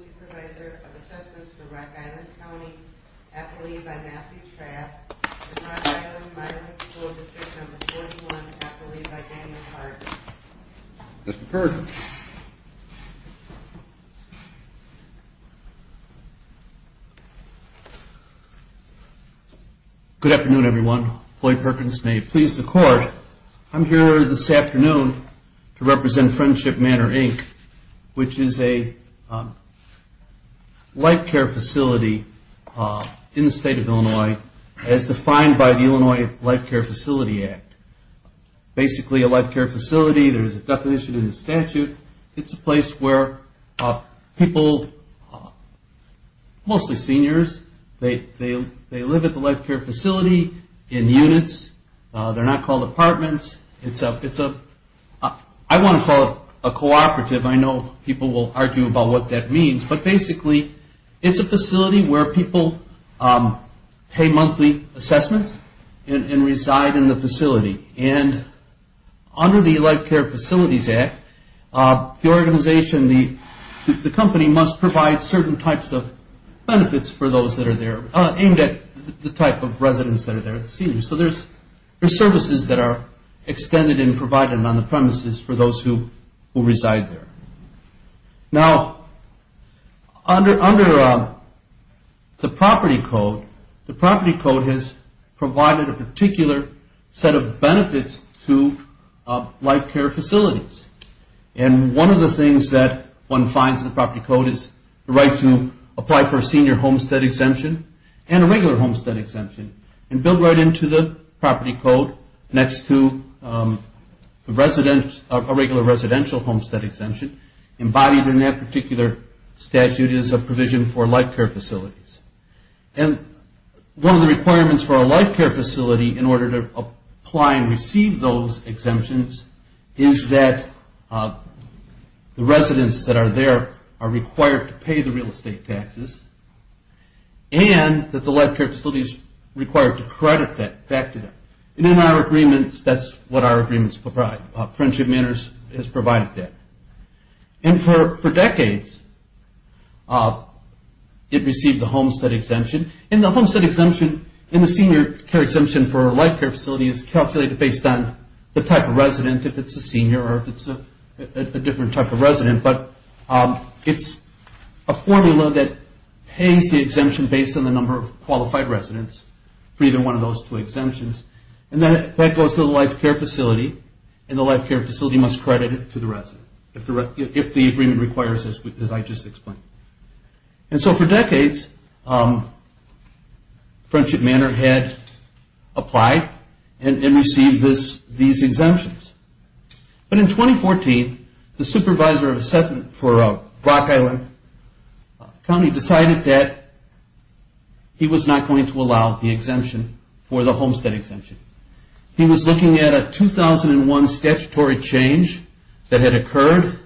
Supervisor of Assessments for Rock Island County, Appellee by Matthew Traft Good afternoon everyone, Floyd Perkins here to represent Friendship Manor, Inc., which is a light care facility in the state of Illinois. as defined by the Illinois Light Care Facility Act. Basically a light care facility, there's a definition in the statute. It's a place where people, mostly seniors, they live at the light care facility in units. They're not called apartments. I want to follow a cooperative, I know people will argue about what that means, but basically it's a facility where people pay monthly assessments and reside in the facility. Under the Light Care Facilities Act, the organization, the company must provide certain types of benefits for those that are there, aimed at the type of residents that are there. So there's services that are extended and provided on the premises for those who reside there. Now, under the property code, the property code has provided a particular set of benefits to light care facilities. One of the things that one finds in the property code is the right to apply for a senior homestead exemption and a regular homestead exemption and build right into the property code next to a regular residential homestead exemption. Embodied in that particular statute is a provision for light care facility in order to apply and receive those exemptions is that the residents that are there are required to pay the real estate taxes and that the light care facility is required to credit that back to them. In our agreements, that's what our agreements provide. Friendship Manors has exemption for a light care facility is calculated based on the type of resident, if it's a senior or if it's a different type of resident, but it's a formula that pays the exemption based on the number of qualified residents for either one of those two exemptions and that goes to the light care facility and the light care facility must credit it to the resident if the agreement requires it, as I just explained. And so for decades, Friendship Manor had applied and received these exemptions. But in 2014, the supervisor for Brock Island County decided that he was not going to allow the exemption for the homestead exemption. He was looking at a 2001 statutory change that had occurred.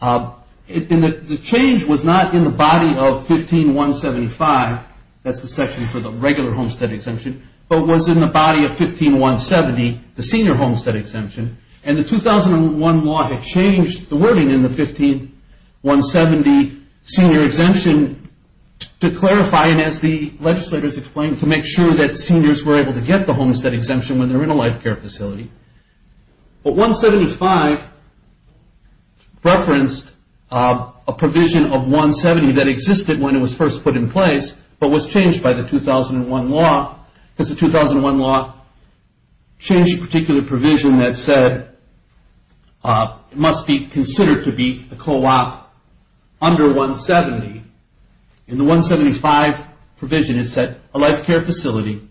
The change was not in the body of 15175, that's the section for the regular homestead exemption, but was in the body of 15170, the senior homestead exemption. And the 2001 law had changed the wording in the 15170 senior exemption to clarify and as the legislators explained, to make sure that seniors were able to get the homestead exemption when they're in a light care facility. But 175 referenced a provision of 170 that existed when it was first put in place, but was changed by the 2001 law because the 2001 law changed a particular provision that said it must be considered to be a co-op under 170. In the 175 provision, it said a light care facility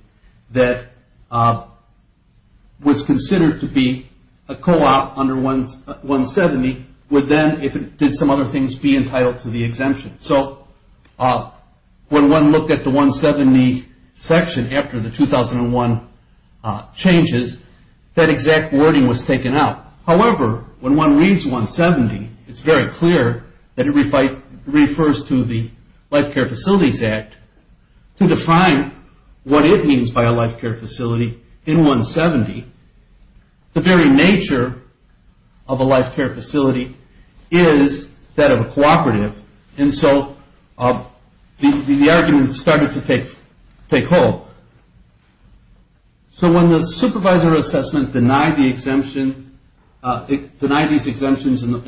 that was considered to be a co-op under 170 would then, if it did some other things, be entitled to the exemption. So when one looked at the 170 section after the 2001 changes, that exact wording was taken out. However, when one reads 170, it's very clear that it refers to the Light Care Facilities Act to define what it means by a light care facility in 170. The very nature of a light care facility is that of a co-operative. And so the argument started to take hold. So when the supervisor assessment denied the exemption, denied these exemptions and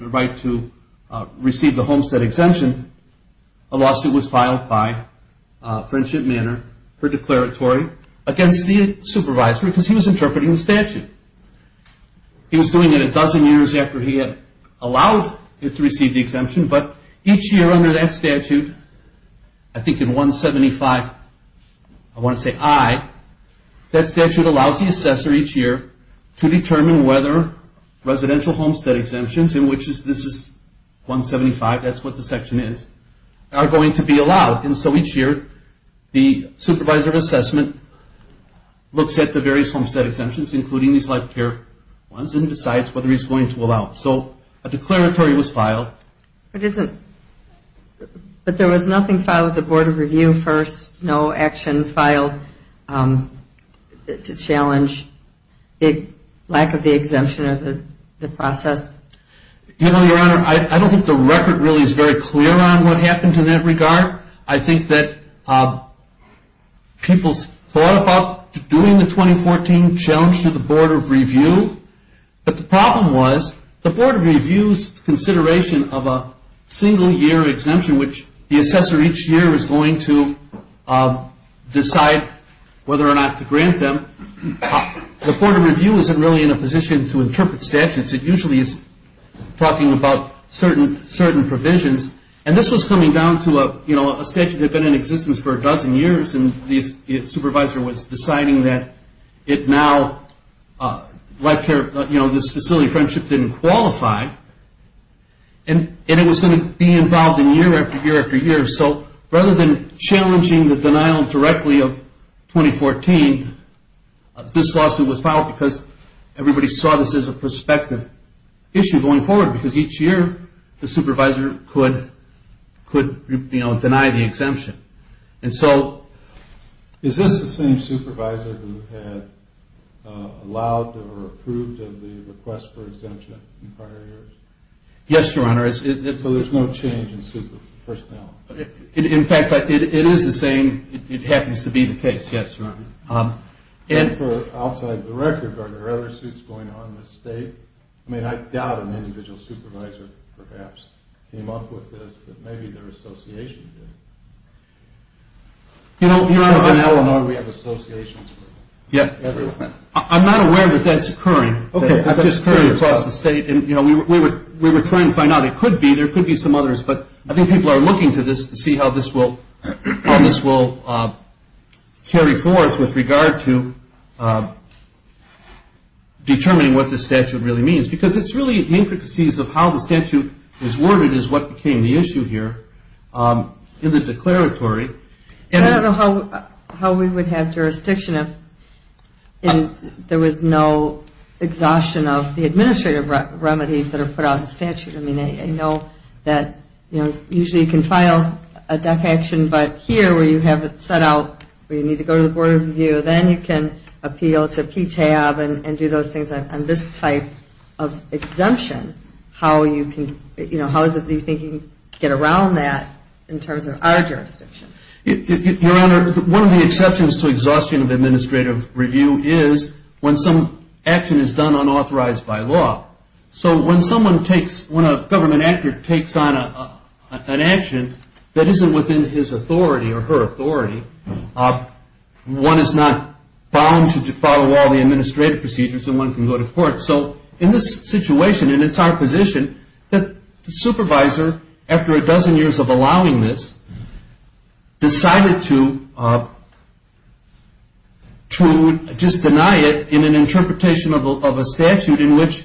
the right to receive the homestead exemption, a lawsuit was filed by Friendship Manor, her declaratory, against the supervisor because he was interpreting the statute. He was doing it a dozen years after he had allowed it to receive the exemption, but each year under that statute, I think in 175, I want to say I, that statute allows the section is, are going to be allowed. And so each year, the supervisor assessment looks at the various homestead exemptions, including these light care ones, and decides whether he's going to allow them. So a declaratory was filed. But there was nothing filed with the Board of Review first, no action filed to challenge the lack of the exemption or the process? Your Honor, I don't think the record really is very clear on what happened in that regard. I think that people thought about doing the 2014 challenge to the Board of Review, but the problem was the Board of Review's consideration of a single year exemption, which the assessor each year is going to decide whether or not to grant them. The Board of Review isn't really in a position to interpret statutes. It usually is talking about certain provisions. And this was coming down to a statute that had been in existence for a dozen years, and the supervisor was deciding that it now, light care, you know, this facility Friendship didn't qualify. And it was going to be This lawsuit was filed because everybody saw this as a prospective issue going forward, because each year, the supervisor could deny the exemption. And so is this the same supervisor who had allowed or approved of the request for exemption in prior years? Yes, Your Honor. So there's no change in personnel? No. In fact, it is the same. It happens to be the case. Yes, Your Honor. And for outside the record, are there other suits going on in the state? I mean, I doubt an individual supervisor perhaps came up with this, but maybe their association did. You know, Your Honor, I'm not aware that that's occurring. We were trying to find out. It could be. There could be some others, but I think people are looking to this to see how this will carry forth with regard to determining what this statute really means. Because it's really the intricacies of how the statute is worded is what became the issue here in the declaratory. I don't know how we would have jurisdiction if there was no exhaustion of the administrative remedies that are put out in statute. I mean, I know that usually you can file a DEC action, but here where you have it set out where you need to go to the Board of Review, then you can appeal to PTAB and do those things on this type of exemption. How is it that you think you can get around that in terms of our jurisdiction? Your Honor, one of the exceptions to exhaustion of administrative review is when some action is done unauthorized by law. So when a government actor takes on an action that isn't within his authority or her authority, one is not bound to follow all the administrative procedures and one can go to court. So in this situation, and it's our position, the supervisor, after a dozen years of allowing this, decided to just deny it in an interpretation of a statute in which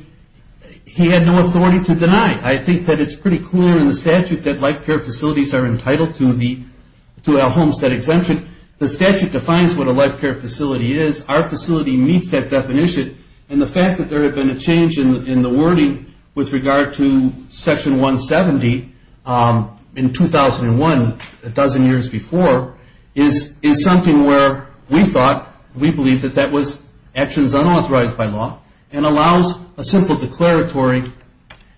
he had no authority to deny. I think that it's pretty clear in the statute that life care facilities are entitled to a homestead exemption. The statute defines what a life care facility is. Our facility meets that definition. And the fact that there had been a change in the wording with regard to Section 170 in 2001, a dozen years before, is something where we thought, we believe that that was actions unauthorized by law and allows a simple declaratory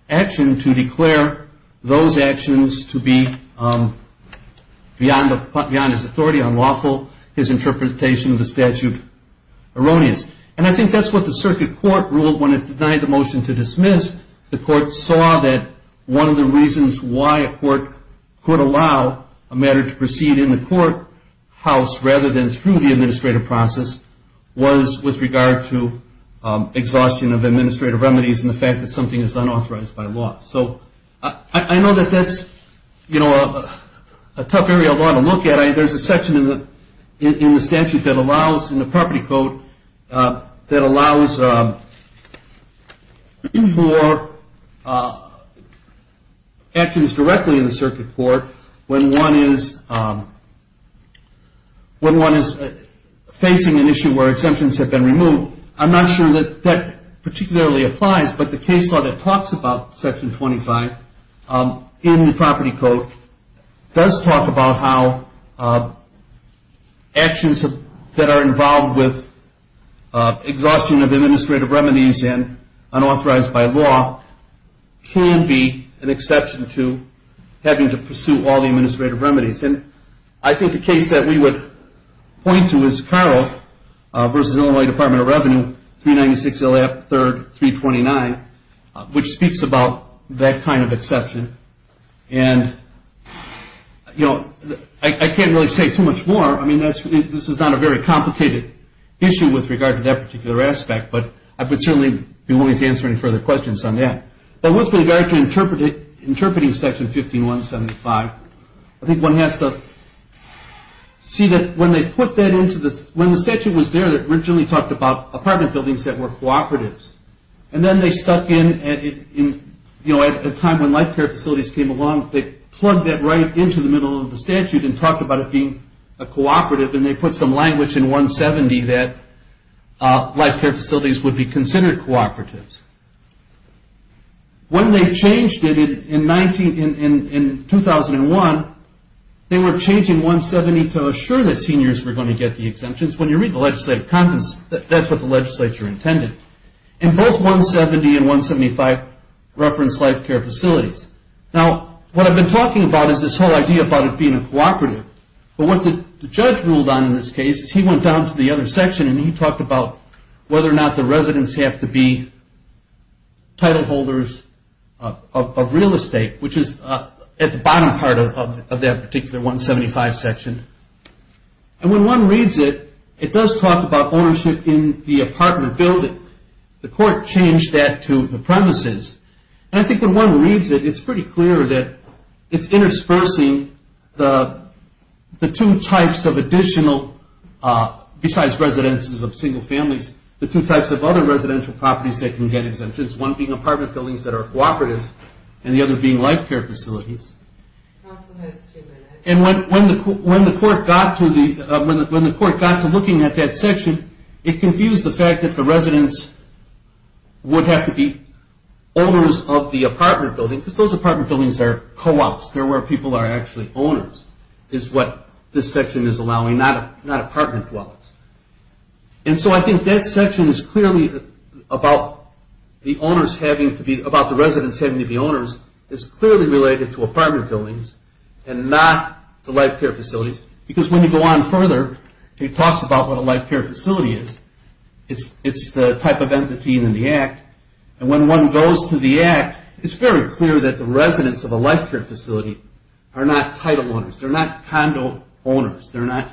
action to declare those actions to be beyond his authority, unlawful, his interpretation of the statute erroneous. And I think that's what the circuit court ruled when it denied the motion to dismiss. The court saw that one of the reasons why a court could allow a matter to proceed in the courthouse rather than through the administrative process was with regard to exhaustion of administrative remedies and the fact that something is unauthorized by law. So I know that that's, you know, a tough area of law to look at. There's a section in the statute that allows, in the property code, that allows for actions directly in the circuit court when one is facing an issue where exemptions have been removed. So I'm not sure that that particularly applies, but the case law that talks about Section 25 in the property code does talk about how actions that are involved with exhaustion of administrative remedies and unauthorized by law can be an exception to having to pursue all the administrative remedies. And I think the case that we would point to is Carroll v. Illinois Department of Revenue, 396 L.F. 3rd, 329, which speaks about that kind of exception. And, you know, I can't really say too much more. I mean, this is not a very complicated issue with regard to that particular aspect, but I would certainly be willing to answer any further questions on that. But with regard to interpreting Section 15175, I think one has to see that when they put that into the, when the statute was there that originally talked about apartment buildings that were cooperatives, and then they stuck in, you know, at a time when life care facilities came along, they plugged that right into the middle of the statute and talked about it being a cooperative, and they put some language in 170 that life care facilities would be considered cooperatives. When they changed it in 19, in 2001, they were changing 170 to assure that seniors were going to get the exemptions. When you read the legislative contents, that's what the legislature intended. And both 170 and 175 referenced life care facilities. Now, what I've been talking about is this whole idea about it being a cooperative. But what the judge ruled on in this case is he went down to the other section and he talked about whether or not the residents have to be title holders of real estate, which is at the bottom part of that particular 175 section. And when one reads it, it does talk about ownership in the apartment building. The court changed that to the premises. And I think when one reads it, it's pretty clear that it's interspersing the two types of additional, besides residences of single families, the two types of other residential properties that can get exemptions, one being apartment buildings that are cooperatives and the other being life care facilities. And when the court got to looking at that section, it confused the fact that the residents would have to be owners of the apartment building, because those apartment buildings are co-ops. They're where people are actually owners, is what this section is allowing, not apartment dwellings. And so I think that section is clearly about the residents having to be owners. It's clearly related to apartment buildings and not the life care facilities. Because when you go on further, it talks about what a life care facility is. It's the type of empathy in the Act. And when one goes to the Act, it's very clear that the residents of a life care facility are not title owners. They're not condo owners. They're not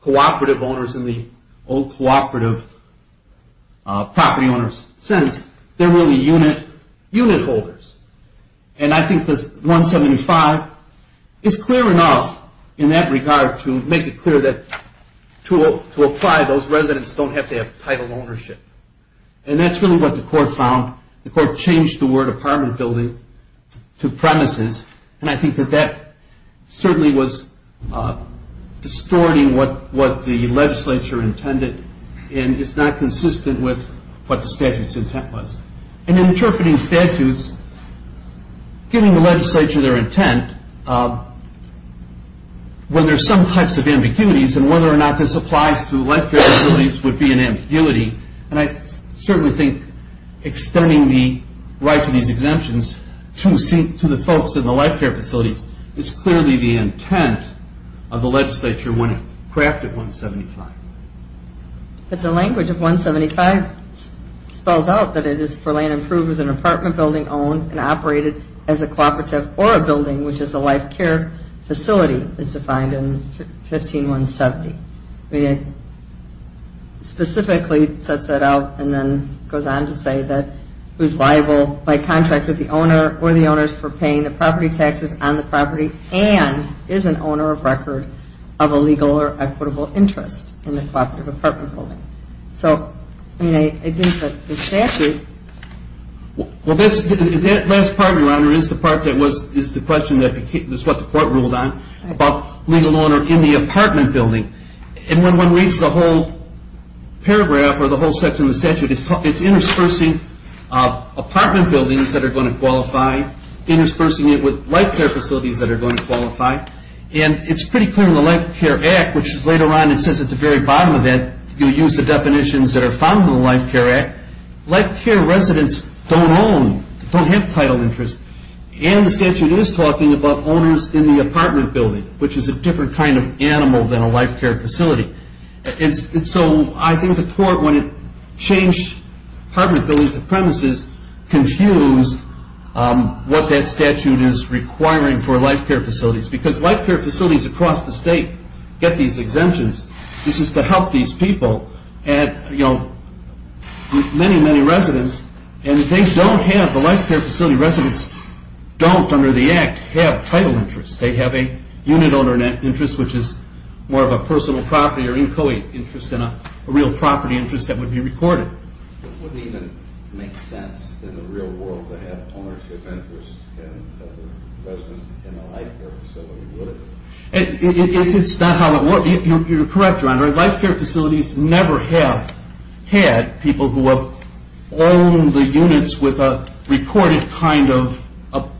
cooperative owners in the old cooperative property owners sense. They're really unit holders. And I think this 175 is clear enough in that regard to make it clear that to apply, those residents don't have to have title ownership. And that's really what the court found. The court changed the word apartment building to premises, and I think that that certainly was distorting what the legislature intended and is not consistent with what the statute's intent was. And interpreting statutes, giving the legislature their intent, when there's some types of ambiguities and whether or not this applies to life care facilities would be an ambiguity. And I certainly think extending the right to these exemptions to the folks in the life care facilities is clearly the intent of the legislature when it crafted 175. But the language of 175 spells out that it is for land approved as an apartment building owned and operated as a cooperative or a building which is a life care facility is defined in 15170. It specifically sets that out and then goes on to say that it was liable by contract with the owner or the owners for paying the property taxes on the property and is an owner of record of a legal or equitable interest in a cooperative apartment building. So, I mean, I think that the statute... that are found in the Life Care Act, life care residents don't own, don't have title interest. And the statute is talking about owners in the apartment building, which is a different kind of animal than a life care facility. And so I think the court, when it changed apartment buildings to premises, confused what that statute is requiring for life care facilities. Because life care facilities across the state get these exemptions. This is to help these people and, you know, many, many residents and they don't have, the life care facility residents don't, under the Act, have title interest. They have a unit owner interest, which is more of a personal property or inchoate interest than a real property interest that would be recorded. It wouldn't even make sense in the real world to have ownership interest in a life care facility, would it? It's not how it works. You're correct, Your Honor. Life care facilities never have had people who have owned the units with a recorded kind of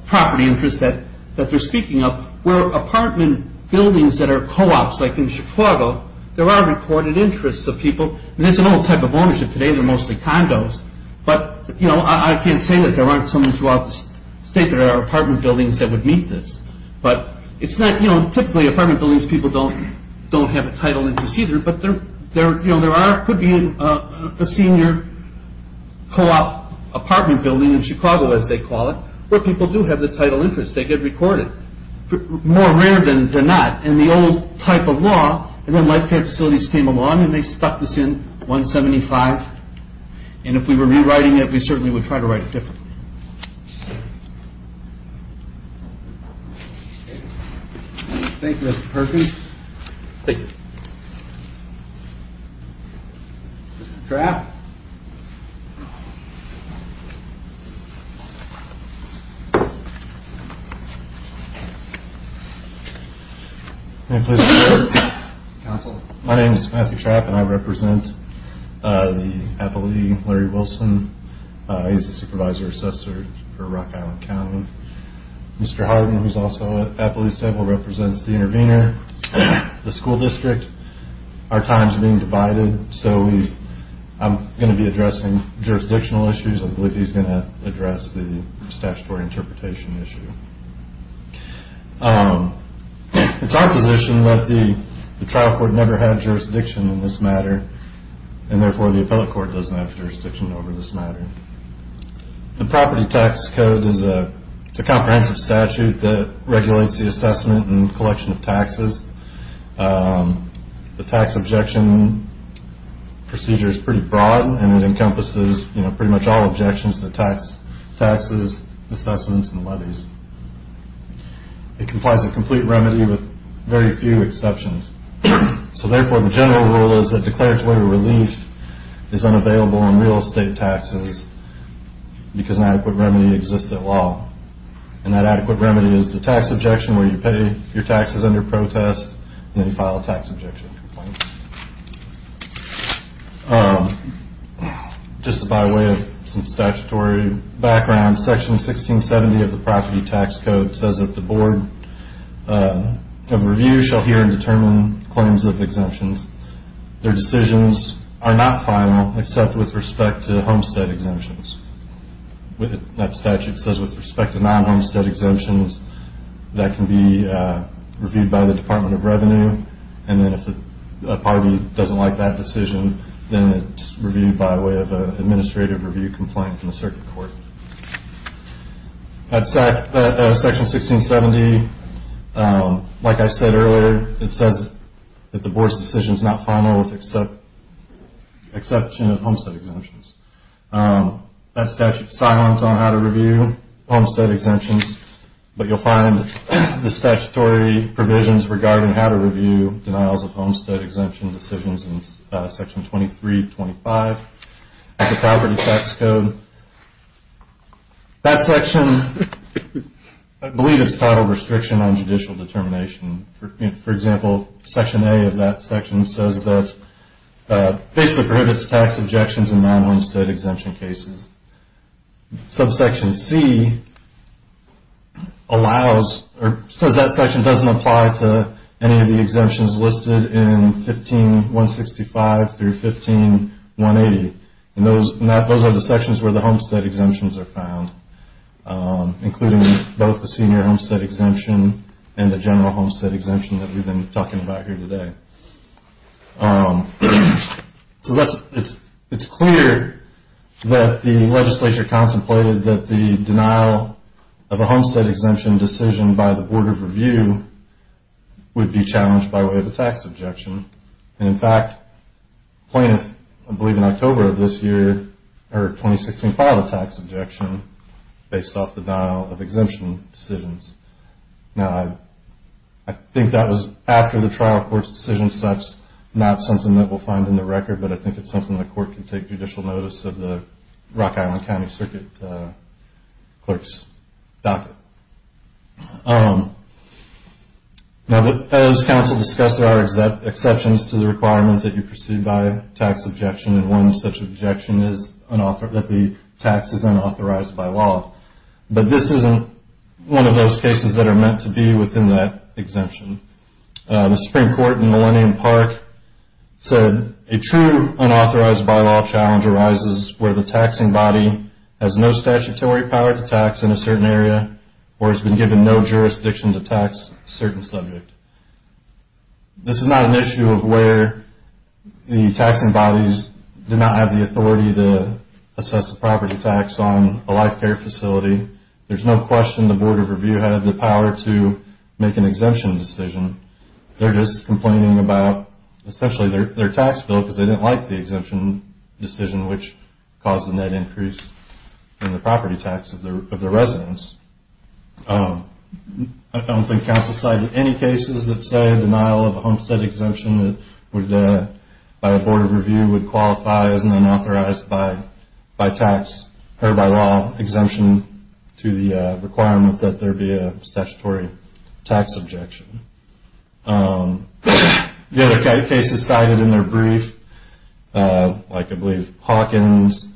property interest that they're speaking of. Where apartment buildings that are co-ops, like in Chicago, there are recorded interests of people. And it's a normal type of ownership today. They're mostly condos. But, you know, I can't say that there aren't some throughout the state that are apartment buildings that would meet this. But it's not, you know, typically apartment buildings, people don't have a title interest either. But there are, could be a senior co-op apartment building in Chicago, as they call it, where people do have the title interest. They get recorded. More rare than not. And the old type of law, and then life care facilities came along and they stuck this in 175. And if we were rewriting it, we certainly would try to write it differently. Thank you, Mr. Perkins. Thank you. Mr. Trapp. My name is Matthew Trapp and I represent the appellee, Larry Wilson. He's the Supervisor Assessor for Rock Island County. Mr. Harden, who's also an appellee, represents the intervener, the school district. Our time is being divided, so I'm going to be addressing jurisdictional issues. I believe he's going to address the statutory interpretation issue. It's our position that the trial court never had jurisdiction in this matter, and therefore the appellate court doesn't have jurisdiction over this matter. The property tax code is a comprehensive statute that regulates the assessment and collection of taxes. The tax objection procedure is pretty broad, and it encompasses pretty much all objections to tax, taxes, assessments, and levies. It complies with complete remedy with very few exceptions. So therefore, the general rule is that declaratory relief is unavailable on real estate taxes because an adequate remedy exists at law. And that adequate remedy is the tax objection where you pay your taxes under protest, and then you file a tax objection complaint. Just by way of some statutory background, section 1670 of the property tax code says that the board of review shall hear and determine claims of exemptions. Their decisions are not final except with respect to homestead exemptions. That statute says with respect to non-homestead exemptions, that can be reviewed by the Department of Revenue, and then if a party doesn't like that decision, then it's reviewed by way of an administrative review complaint in the circuit court. At section 1670, like I said earlier, it says that the board's decision is not final with exception of homestead exemptions. That statute is silent on how to review homestead exemptions, but you'll find the statutory provisions regarding how to review denials of homestead exemption decisions in section 2325 of the property tax code. That section, I believe it's titled Restriction on Judicial Determination. For example, section A of that section says that basically prohibits tax objections in non-homestead exemption cases. Subsection C allows, or says that section doesn't apply to any of the exemptions listed in 15165 through 15180. Those are the sections where the homestead exemptions are found, including both the senior homestead exemption and the general homestead exemption that we've been talking about here today. It's clear that the legislature contemplated that the denial of a homestead exemption decision by the Board of Review would be challenged by way of a tax objection. In fact, Plaintiff, I believe in October of this year, 2016 filed a tax objection based off the denial of exemption decisions. I think that was after the trial court's decision, so that's not something that we'll find in the record, but I think it's something the court can take judicial notice of the Rock Island County Circuit Clerk's docket. Now, as counsel discussed, there are exceptions to the requirement that you proceed by tax objection, and one such objection is that the tax is unauthorized by law. But this isn't one of those cases that are meant to be within that exemption. The Supreme Court in Millennium Park said, a true unauthorized by law challenge arises where the taxing body has no statutory power to tax in a certain area or has been given no jurisdiction to tax a certain subject. This is not an issue of where the taxing bodies do not have the authority to assess the property tax on a life care facility. There's no question the Board of Review had the power to make an exemption decision. They're just complaining about, essentially, their tax bill because they didn't like the exemption decision, which caused a net increase in the property tax of the residents. I don't think counsel cited any cases that say a denial of a homestead exemption by a Board of Review would qualify as an unauthorized by tax, or by law, exemption to the requirement that there be a statutory tax objection. The other cases cited in their brief, like I believe Hawkins,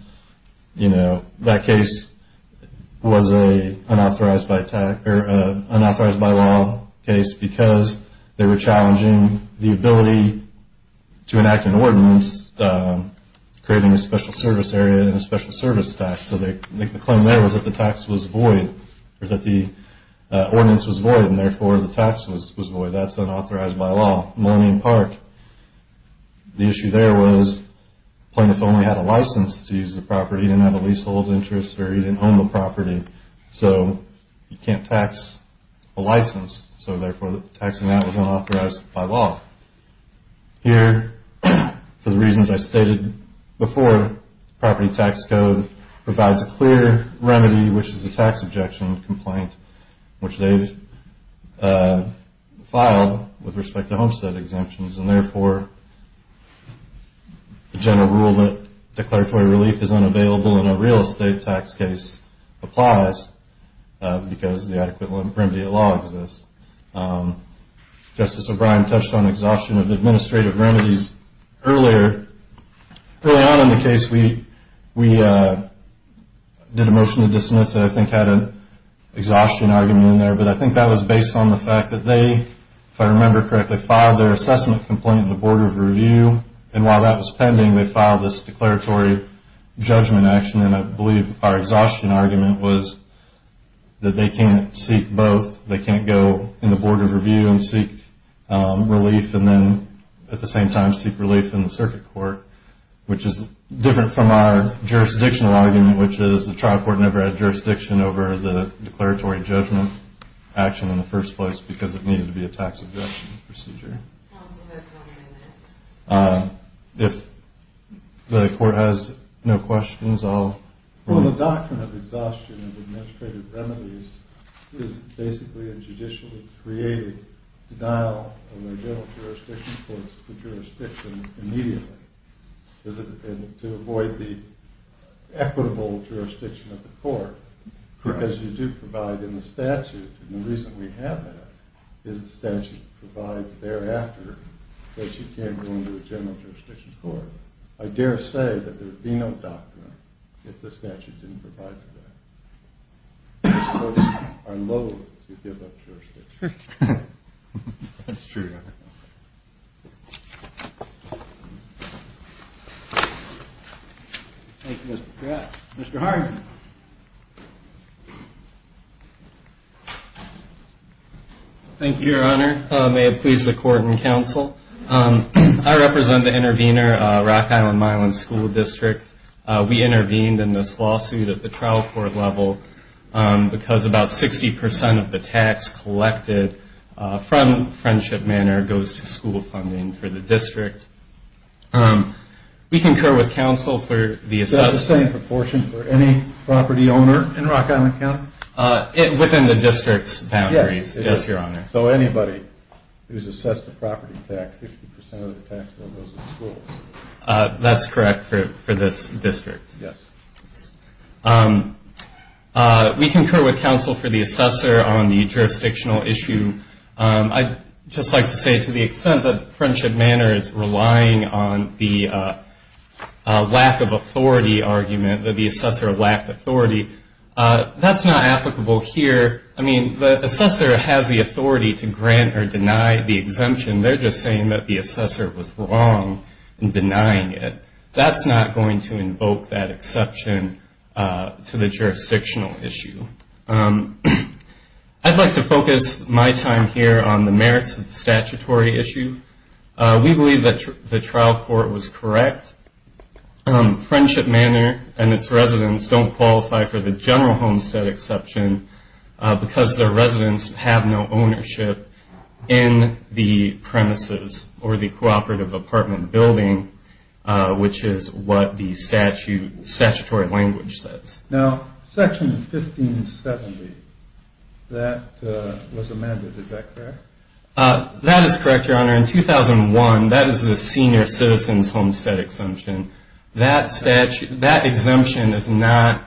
that case was an unauthorized by law case because they were challenging the ability to enact an ordinance creating a special service area and a special service tax. So the claim there was that the tax was void, or that the ordinance was void, and therefore the tax was void. That's unauthorized by law. Millennium Park, the issue there was the plaintiff only had a license to use the property. He didn't have a leasehold interest, or he didn't own the property. So he can't tax a license, so therefore taxing that was unauthorized by law. Here, for the reasons I stated before, property tax code provides a clear remedy, which is a tax objection complaint, which they've filed with respect to homestead exemptions, and therefore the general rule that declaratory relief is unavailable in a real estate tax case applies because the adequate remedy of law exists. Justice O'Brien touched on exhaustion of administrative remedies earlier. Early on in the case, we did a motion to dismiss that I think had an exhaustion argument in there, but I think that was based on the fact that they, if I remember correctly, filed their assessment complaint in the Board of Review, and while that was pending, they filed this declaratory judgment action, and I believe our exhaustion argument was that they can't seek both. They can't go in the Board of Review and seek relief and then at the same time seek relief in the circuit court, which is different from our jurisdictional argument, which is the trial court never had jurisdiction over the declaratory judgment action in the first place because it needed to be a tax objection procedure. If the court has no questions, I'll move. The doctrine of exhaustion of administrative remedies is basically a judicially created denial of the general jurisdiction for the jurisdiction immediately to avoid the equitable jurisdiction of the court because you do provide in the statute, and the reason we have that is the statute provides thereafter that you can't go into a general jurisdiction court. I dare say that there would be no doctrine if the statute didn't provide for that. Most courts are loathe to give up jurisdiction. That's true. Thank you, Mr. Pratt. Mr. Harden. Thank you, Your Honor. May it please the court and counsel. I represent the intervener, Rock Island Mile and School District. We intervened in this lawsuit at the trial court level because about 60% of the tax collected from Friendship Manor goes to school funding for the district. We concur with counsel for the assessment. Is that the same proportion for any property owner in Rock Island County? Within the district's boundaries, yes, Your Honor. So anybody who's assessed a property tax, 60% of the tax bill goes to school. That's correct for this district. Yes. We concur with counsel for the assessor on the jurisdictional issue. I'd just like to say to the extent that Friendship Manor is relying on the lack of authority argument, that the assessor lacked authority, that's not applicable here. I mean, the assessor has the authority to grant or deny the exemption. They're just saying that the assessor was wrong in denying it. That's not going to invoke that exception to the jurisdictional issue. I'd like to focus my time here on the merits of the statutory issue. We believe that the trial court was correct. Friendship Manor and its residents don't qualify for the general homestead exception because their residents have no ownership in the premises or the cooperative apartment building, which is what the statutory language says. Now, Section 1570, that was amended. Is that correct? That is correct, Your Honor. In 2001, that is the senior citizen's homestead exemption. That exemption is not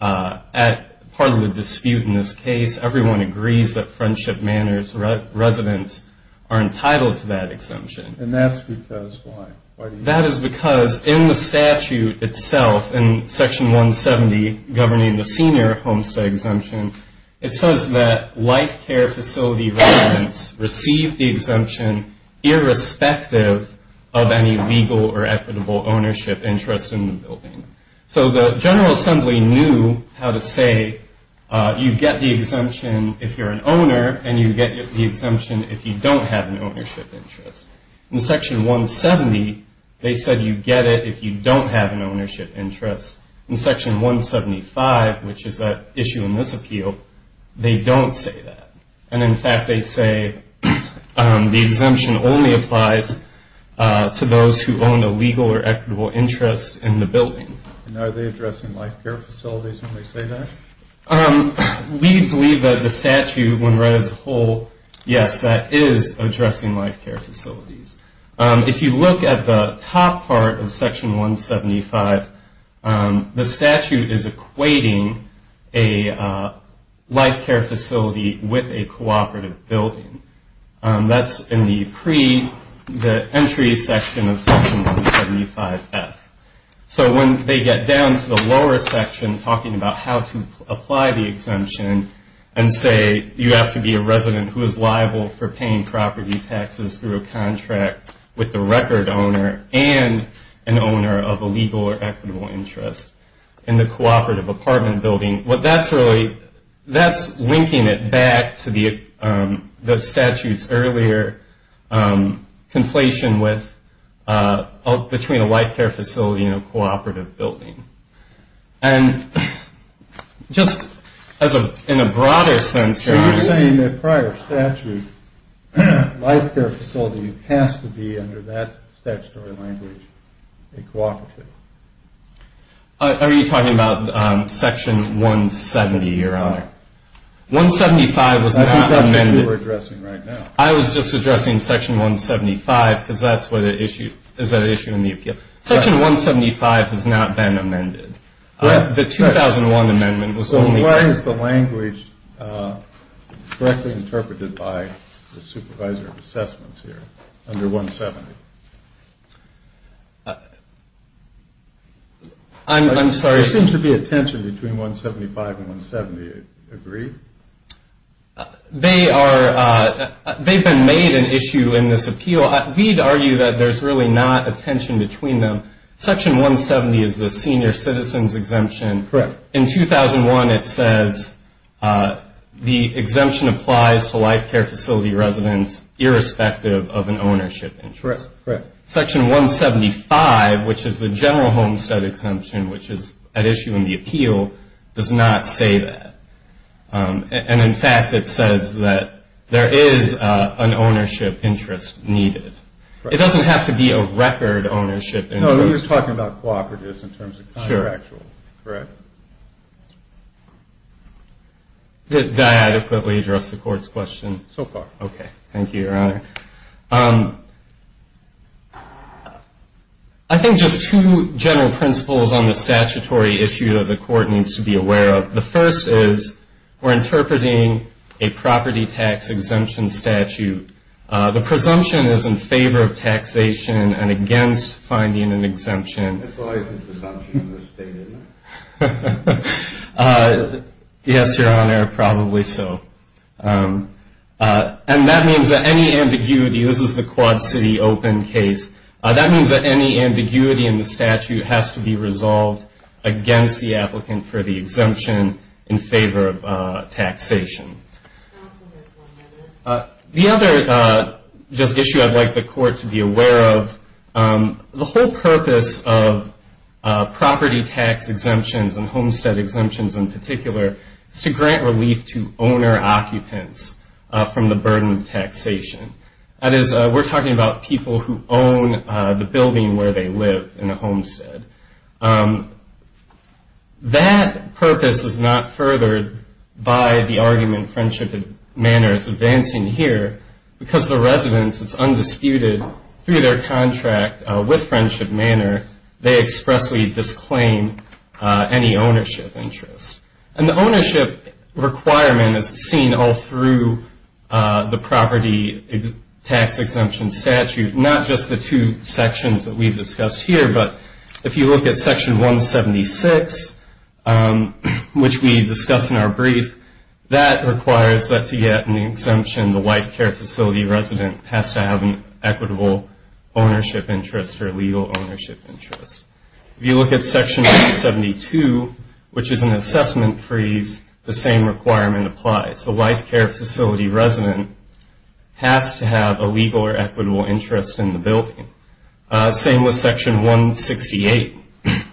part of the dispute in this case. Everyone agrees that Friendship Manor's residents are entitled to that exemption. And that's because why? That is because in the statute itself, in Section 170 governing the senior homestead exemption, it says that life care facility residents receive the exemption irrespective of any legal or equitable ownership interest in the building. So the General Assembly knew how to say you get the exemption if you're an owner and you get the exemption if you don't have an ownership interest. In Section 170, they said you get it if you don't have an ownership interest. In Section 175, which is that issue in this appeal, they don't say that. And, in fact, they say the exemption only applies to those who own a legal or equitable interest in the building. And are they addressing life care facilities when they say that? We believe that the statute, when read as a whole, yes, that is addressing life care facilities. If you look at the top part of Section 175, the statute is equating a life care facility with a cooperative building. That's in the entry section of Section 175F. So when they get down to the lower section talking about how to apply the exemption and say you have to be a resident who is liable for paying property taxes through a contract with the record owner and an owner of a legal or equitable interest in the cooperative apartment building, that's linking it back to the statute's earlier conflation between a life care facility and a cooperative building. And just in a broader sense, Your Honor. So you're saying that prior statute, life care facility has to be under that statutory language, a cooperative. Are you talking about Section 170, Your Honor? 175 was not amended. I think that's what you were addressing right now. I was just addressing Section 175 because that's where the issue, is that issue in the appeal. Section 175 has not been amended. The 2001 amendment was only set. Why is the language correctly interpreted by the supervisor of assessments here under 170? I'm sorry. There seems to be a tension between 175 and 170. Do you agree? They've been made an issue in this appeal. Well, we'd argue that there's really not a tension between them. Section 170 is the senior citizen's exemption. Correct. In 2001, it says the exemption applies to life care facility residents irrespective of an ownership interest. Correct. Section 175, which is the general homestead exemption, which is at issue in the appeal, does not say that. And, in fact, it says that there is an ownership interest needed. It doesn't have to be a record ownership interest. No, you're talking about cooperatives in terms of contractual. Correct. Did I adequately address the Court's question? So far. Okay. Thank you, Your Honor. I think just two general principles on the statutory issue that the Court needs to be aware of. The first is we're interpreting a property tax exemption statute. The presumption is in favor of taxation and against finding an exemption. That's always the presumption in this state, isn't it? Yes, Your Honor, probably so. And that means that any ambiguity, this is the Quad City Open case, that means that any ambiguity in the statute has to be resolved against the applicant for the exemption in favor of taxation. And also there's one other. The other issue I'd like the Court to be aware of, the whole purpose of property tax exemptions and homestead exemptions in particular is to grant relief to owner-occupants from the burden of taxation. That is, we're talking about people who own the building where they live in a homestead. That purpose is not furthered by the argument friendship and manners advancing here. Because the residence is undisputed through their contract with friendship and manner, they expressly disclaim any ownership interest. And the ownership requirement is seen all through the property tax exemption statute, not just the two sections that we've discussed here. But if you look at Section 176, which we discussed in our brief, that requires that to get an exemption the white care facility resident has to have an equitable ownership interest or legal ownership interest. If you look at Section 172, which is an assessment freeze, the same requirement applies. The white care facility resident has to have a legal or equitable interest in the building. Same with Section 168,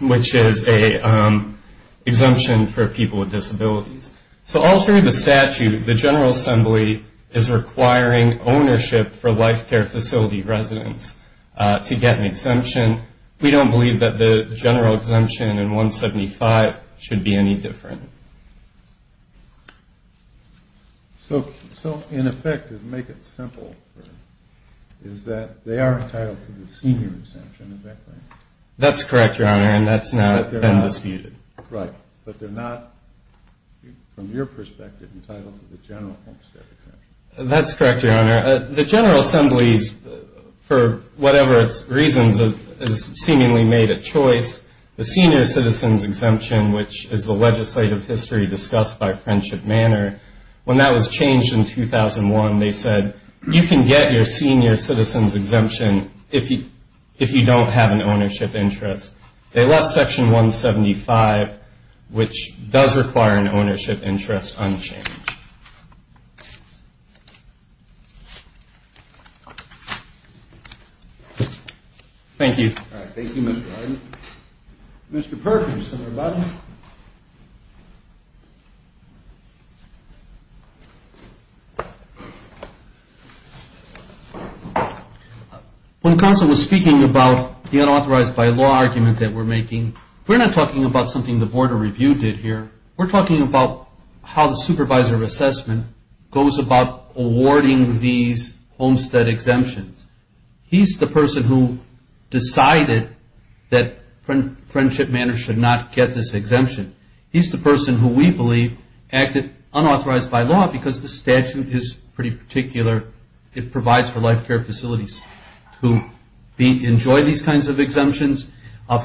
which is an exemption for people with disabilities. So all through the statute, the General Assembly is requiring ownership for white care facility residents to get an exemption. We don't believe that the general exemption in 175 should be any different. So in effect, to make it simple, is that they are entitled to the senior exemption. Is that correct? That's correct, Your Honor, and that's not undisputed. Right, but they're not, from your perspective, entitled to the general homestead exemption. That's correct, Your Honor. The General Assembly, for whatever reasons, has seemingly made a choice. The senior citizen's exemption, which is the legislative history discussed by Friendship Manor, when that was changed in 2001, they said, you can get your senior citizen's exemption if you don't have an ownership interest. They left Section 175, which does require an ownership interest unchanged. Thank you. Thank you, Mr. Harden. Mr. Perkins, everybody. Thank you, Your Honor. When Counsel was speaking about the unauthorized by law argument that we're making, we're not talking about something the Board of Review did here. We're talking about how the supervisor of assessment goes about awarding these homestead exemptions. He's the person who decided that Friendship Manor should not get this exemption. He's the person who we believe acted unauthorized by law because the statute is pretty particular. It provides for life care facilities to enjoy these kinds of exemptions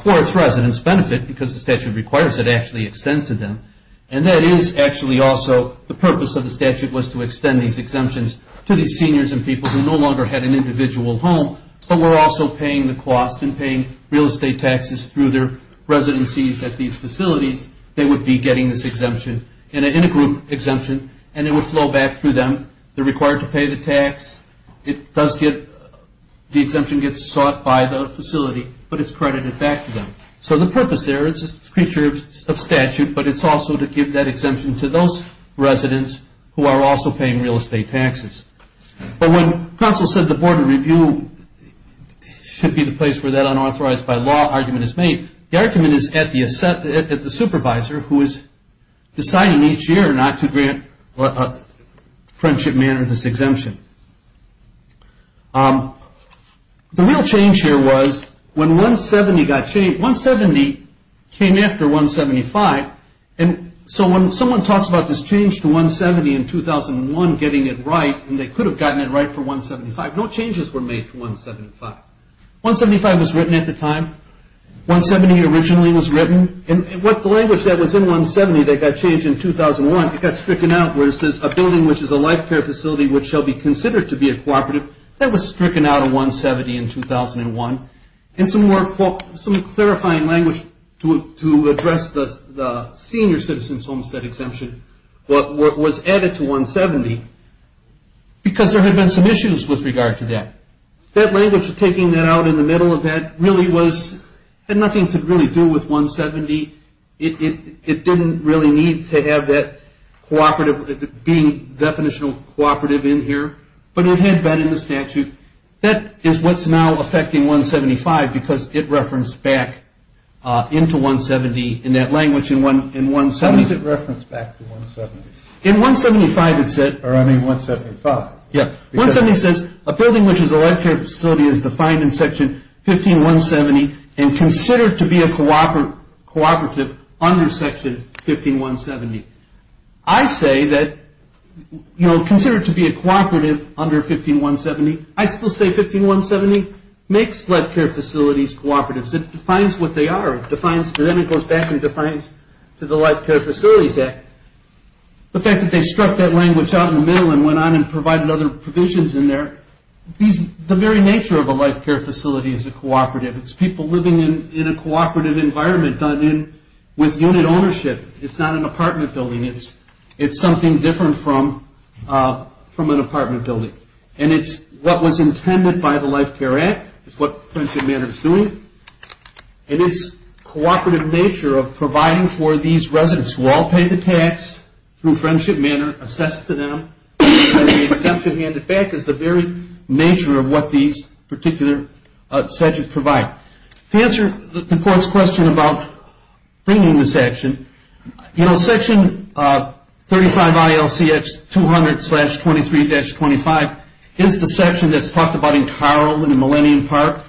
for its residents' benefit because the statute requires it actually extends to them. And that is actually also the purpose of the statute was to extend these exemptions to these seniors and people who no longer had an individual home, but were also paying the cost and paying real estate taxes through their residencies at these facilities. They would be getting this exemption in a group exemption, and it would flow back through them. They're required to pay the tax. The exemption gets sought by the facility, but it's credited back to them. So the purpose there is a creature of statute, but it's also to give that exemption to those residents who are also paying real estate taxes. But when Council said the Board of Review should be the place where that unauthorized by law argument is made, the argument is at the supervisor who is deciding each year not to grant Friendship Manor this exemption. The real change here was when 170 got changed. 170 came after 175, and so when someone talks about this change to 170 in 2001 getting it right, and they could have gotten it right for 175. No changes were made to 175. 175 was written at the time. 170 originally was written. And the language that was in 170 that got changed in 2001, it got stricken out where it says, a building which is a life care facility which shall be considered to be a cooperative. That was stricken out of 170 in 2001. And some more clarifying language to address the senior citizen's homestead exemption was added to 170 because there had been some issues with regard to that. That language of taking that out in the middle of that really had nothing to really do with 170. It didn't really need to have that cooperative being definitional cooperative in here, but it had been in the statute. That is what's now affecting 175 because it referenced back into 170 in that language in 170. What does it reference back to 170? In 175 it said. Or I mean 175. Yeah. 170 says a building which is a life care facility is defined in section 15170 and considered to be a cooperative under section 15170. I say that, you know, considered to be a cooperative under 15170. I still say 15170 makes life care facilities cooperatives. It defines what they are. It defines to them. It goes back and defines to the Life Care Facilities Act. The fact that they struck that language out in the middle and went on and provided other provisions in there, the very nature of a life care facility is a cooperative. It's people living in a cooperative environment done in with unit ownership. It's not an apartment building. It's something different from an apartment building. And it's what was intended by the Life Care Act. It's what Friendship Manor is doing. And it's cooperative nature of providing for these residents who all pay the tax through Friendship Manor, assessed to them, and the exemption handed back is the very nature of what these particular statutes provide. To answer the court's question about bringing this action, you know, section 35ILCX200-23-25 is the section that's talked about in Carle in the Millennium Park.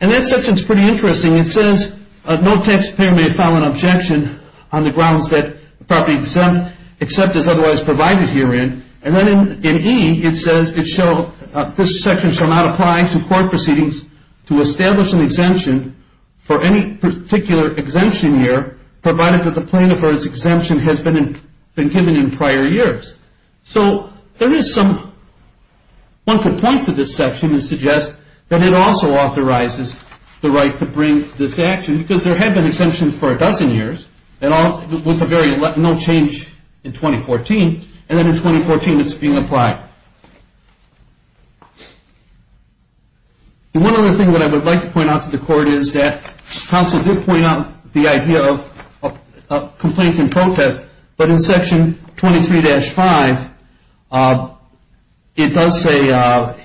And that section is pretty interesting. It says no taxpayer may file an objection on the grounds that the property exempt is otherwise provided herein. And then in E, it says this section shall not apply to court proceedings to establish an exemption for any particular exemption year provided that the plaintiff or its exemption has been given in prior years. So there is some, one could point to this section and suggest that it also authorizes the right to bring this action because there have been exemptions for a dozen years with no change in 2014. And then in 2014, it's being applied. And one other thing that I would like to point out to the court is that counsel did point out the idea of complaints and protests, but in section 23-5, it does say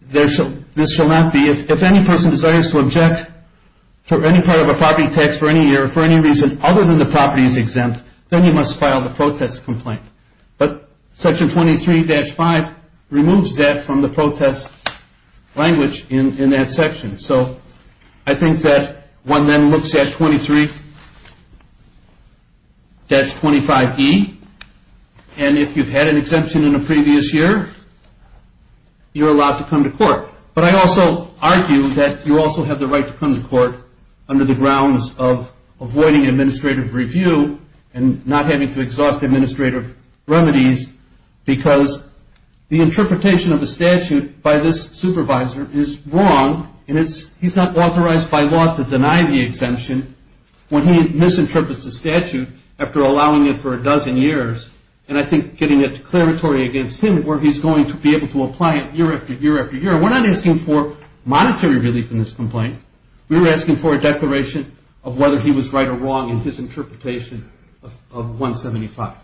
this shall not be, if any person desires to object for any part of a property tax for any year for any reason other than the property is exempt, then you must file the protest complaint. But section 23-5 removes that from the protest language in that section. So I think that one then looks at 23-25E, and if you've had an exemption in a previous year, you're allowed to come to court. But I also argue that you also have the right to come to court under the grounds of avoiding administrative review and not having to exhaust administrative remedies because the interpretation of the statute by this supervisor is wrong, and he's not authorized by law to deny the exemption when he misinterprets the statute after allowing it for a dozen years, and I think getting a declaratory against him where he's going to be able to apply it year after year after year, and we're not asking for monetary relief in this complaint. We're asking for a declaration of whether he was right or wrong in his interpretation of 175.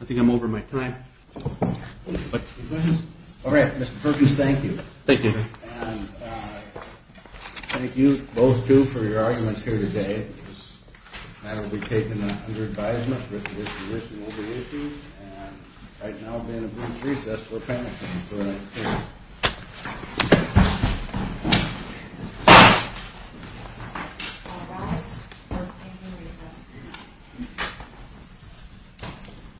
I think I'm over my time. All right, Mr. Perkins, thank you. Thank you. And thank you both, too, for your arguments here today. This matter will be taken under advisement, but the resolution will be issued. And right now, we're going to move to recess. We're panelists. Thank you very much. Thank you. Thank you. Thank you. Thank you. Thank you. Thank you. Thank you. Thank you. Thank you. Thank you.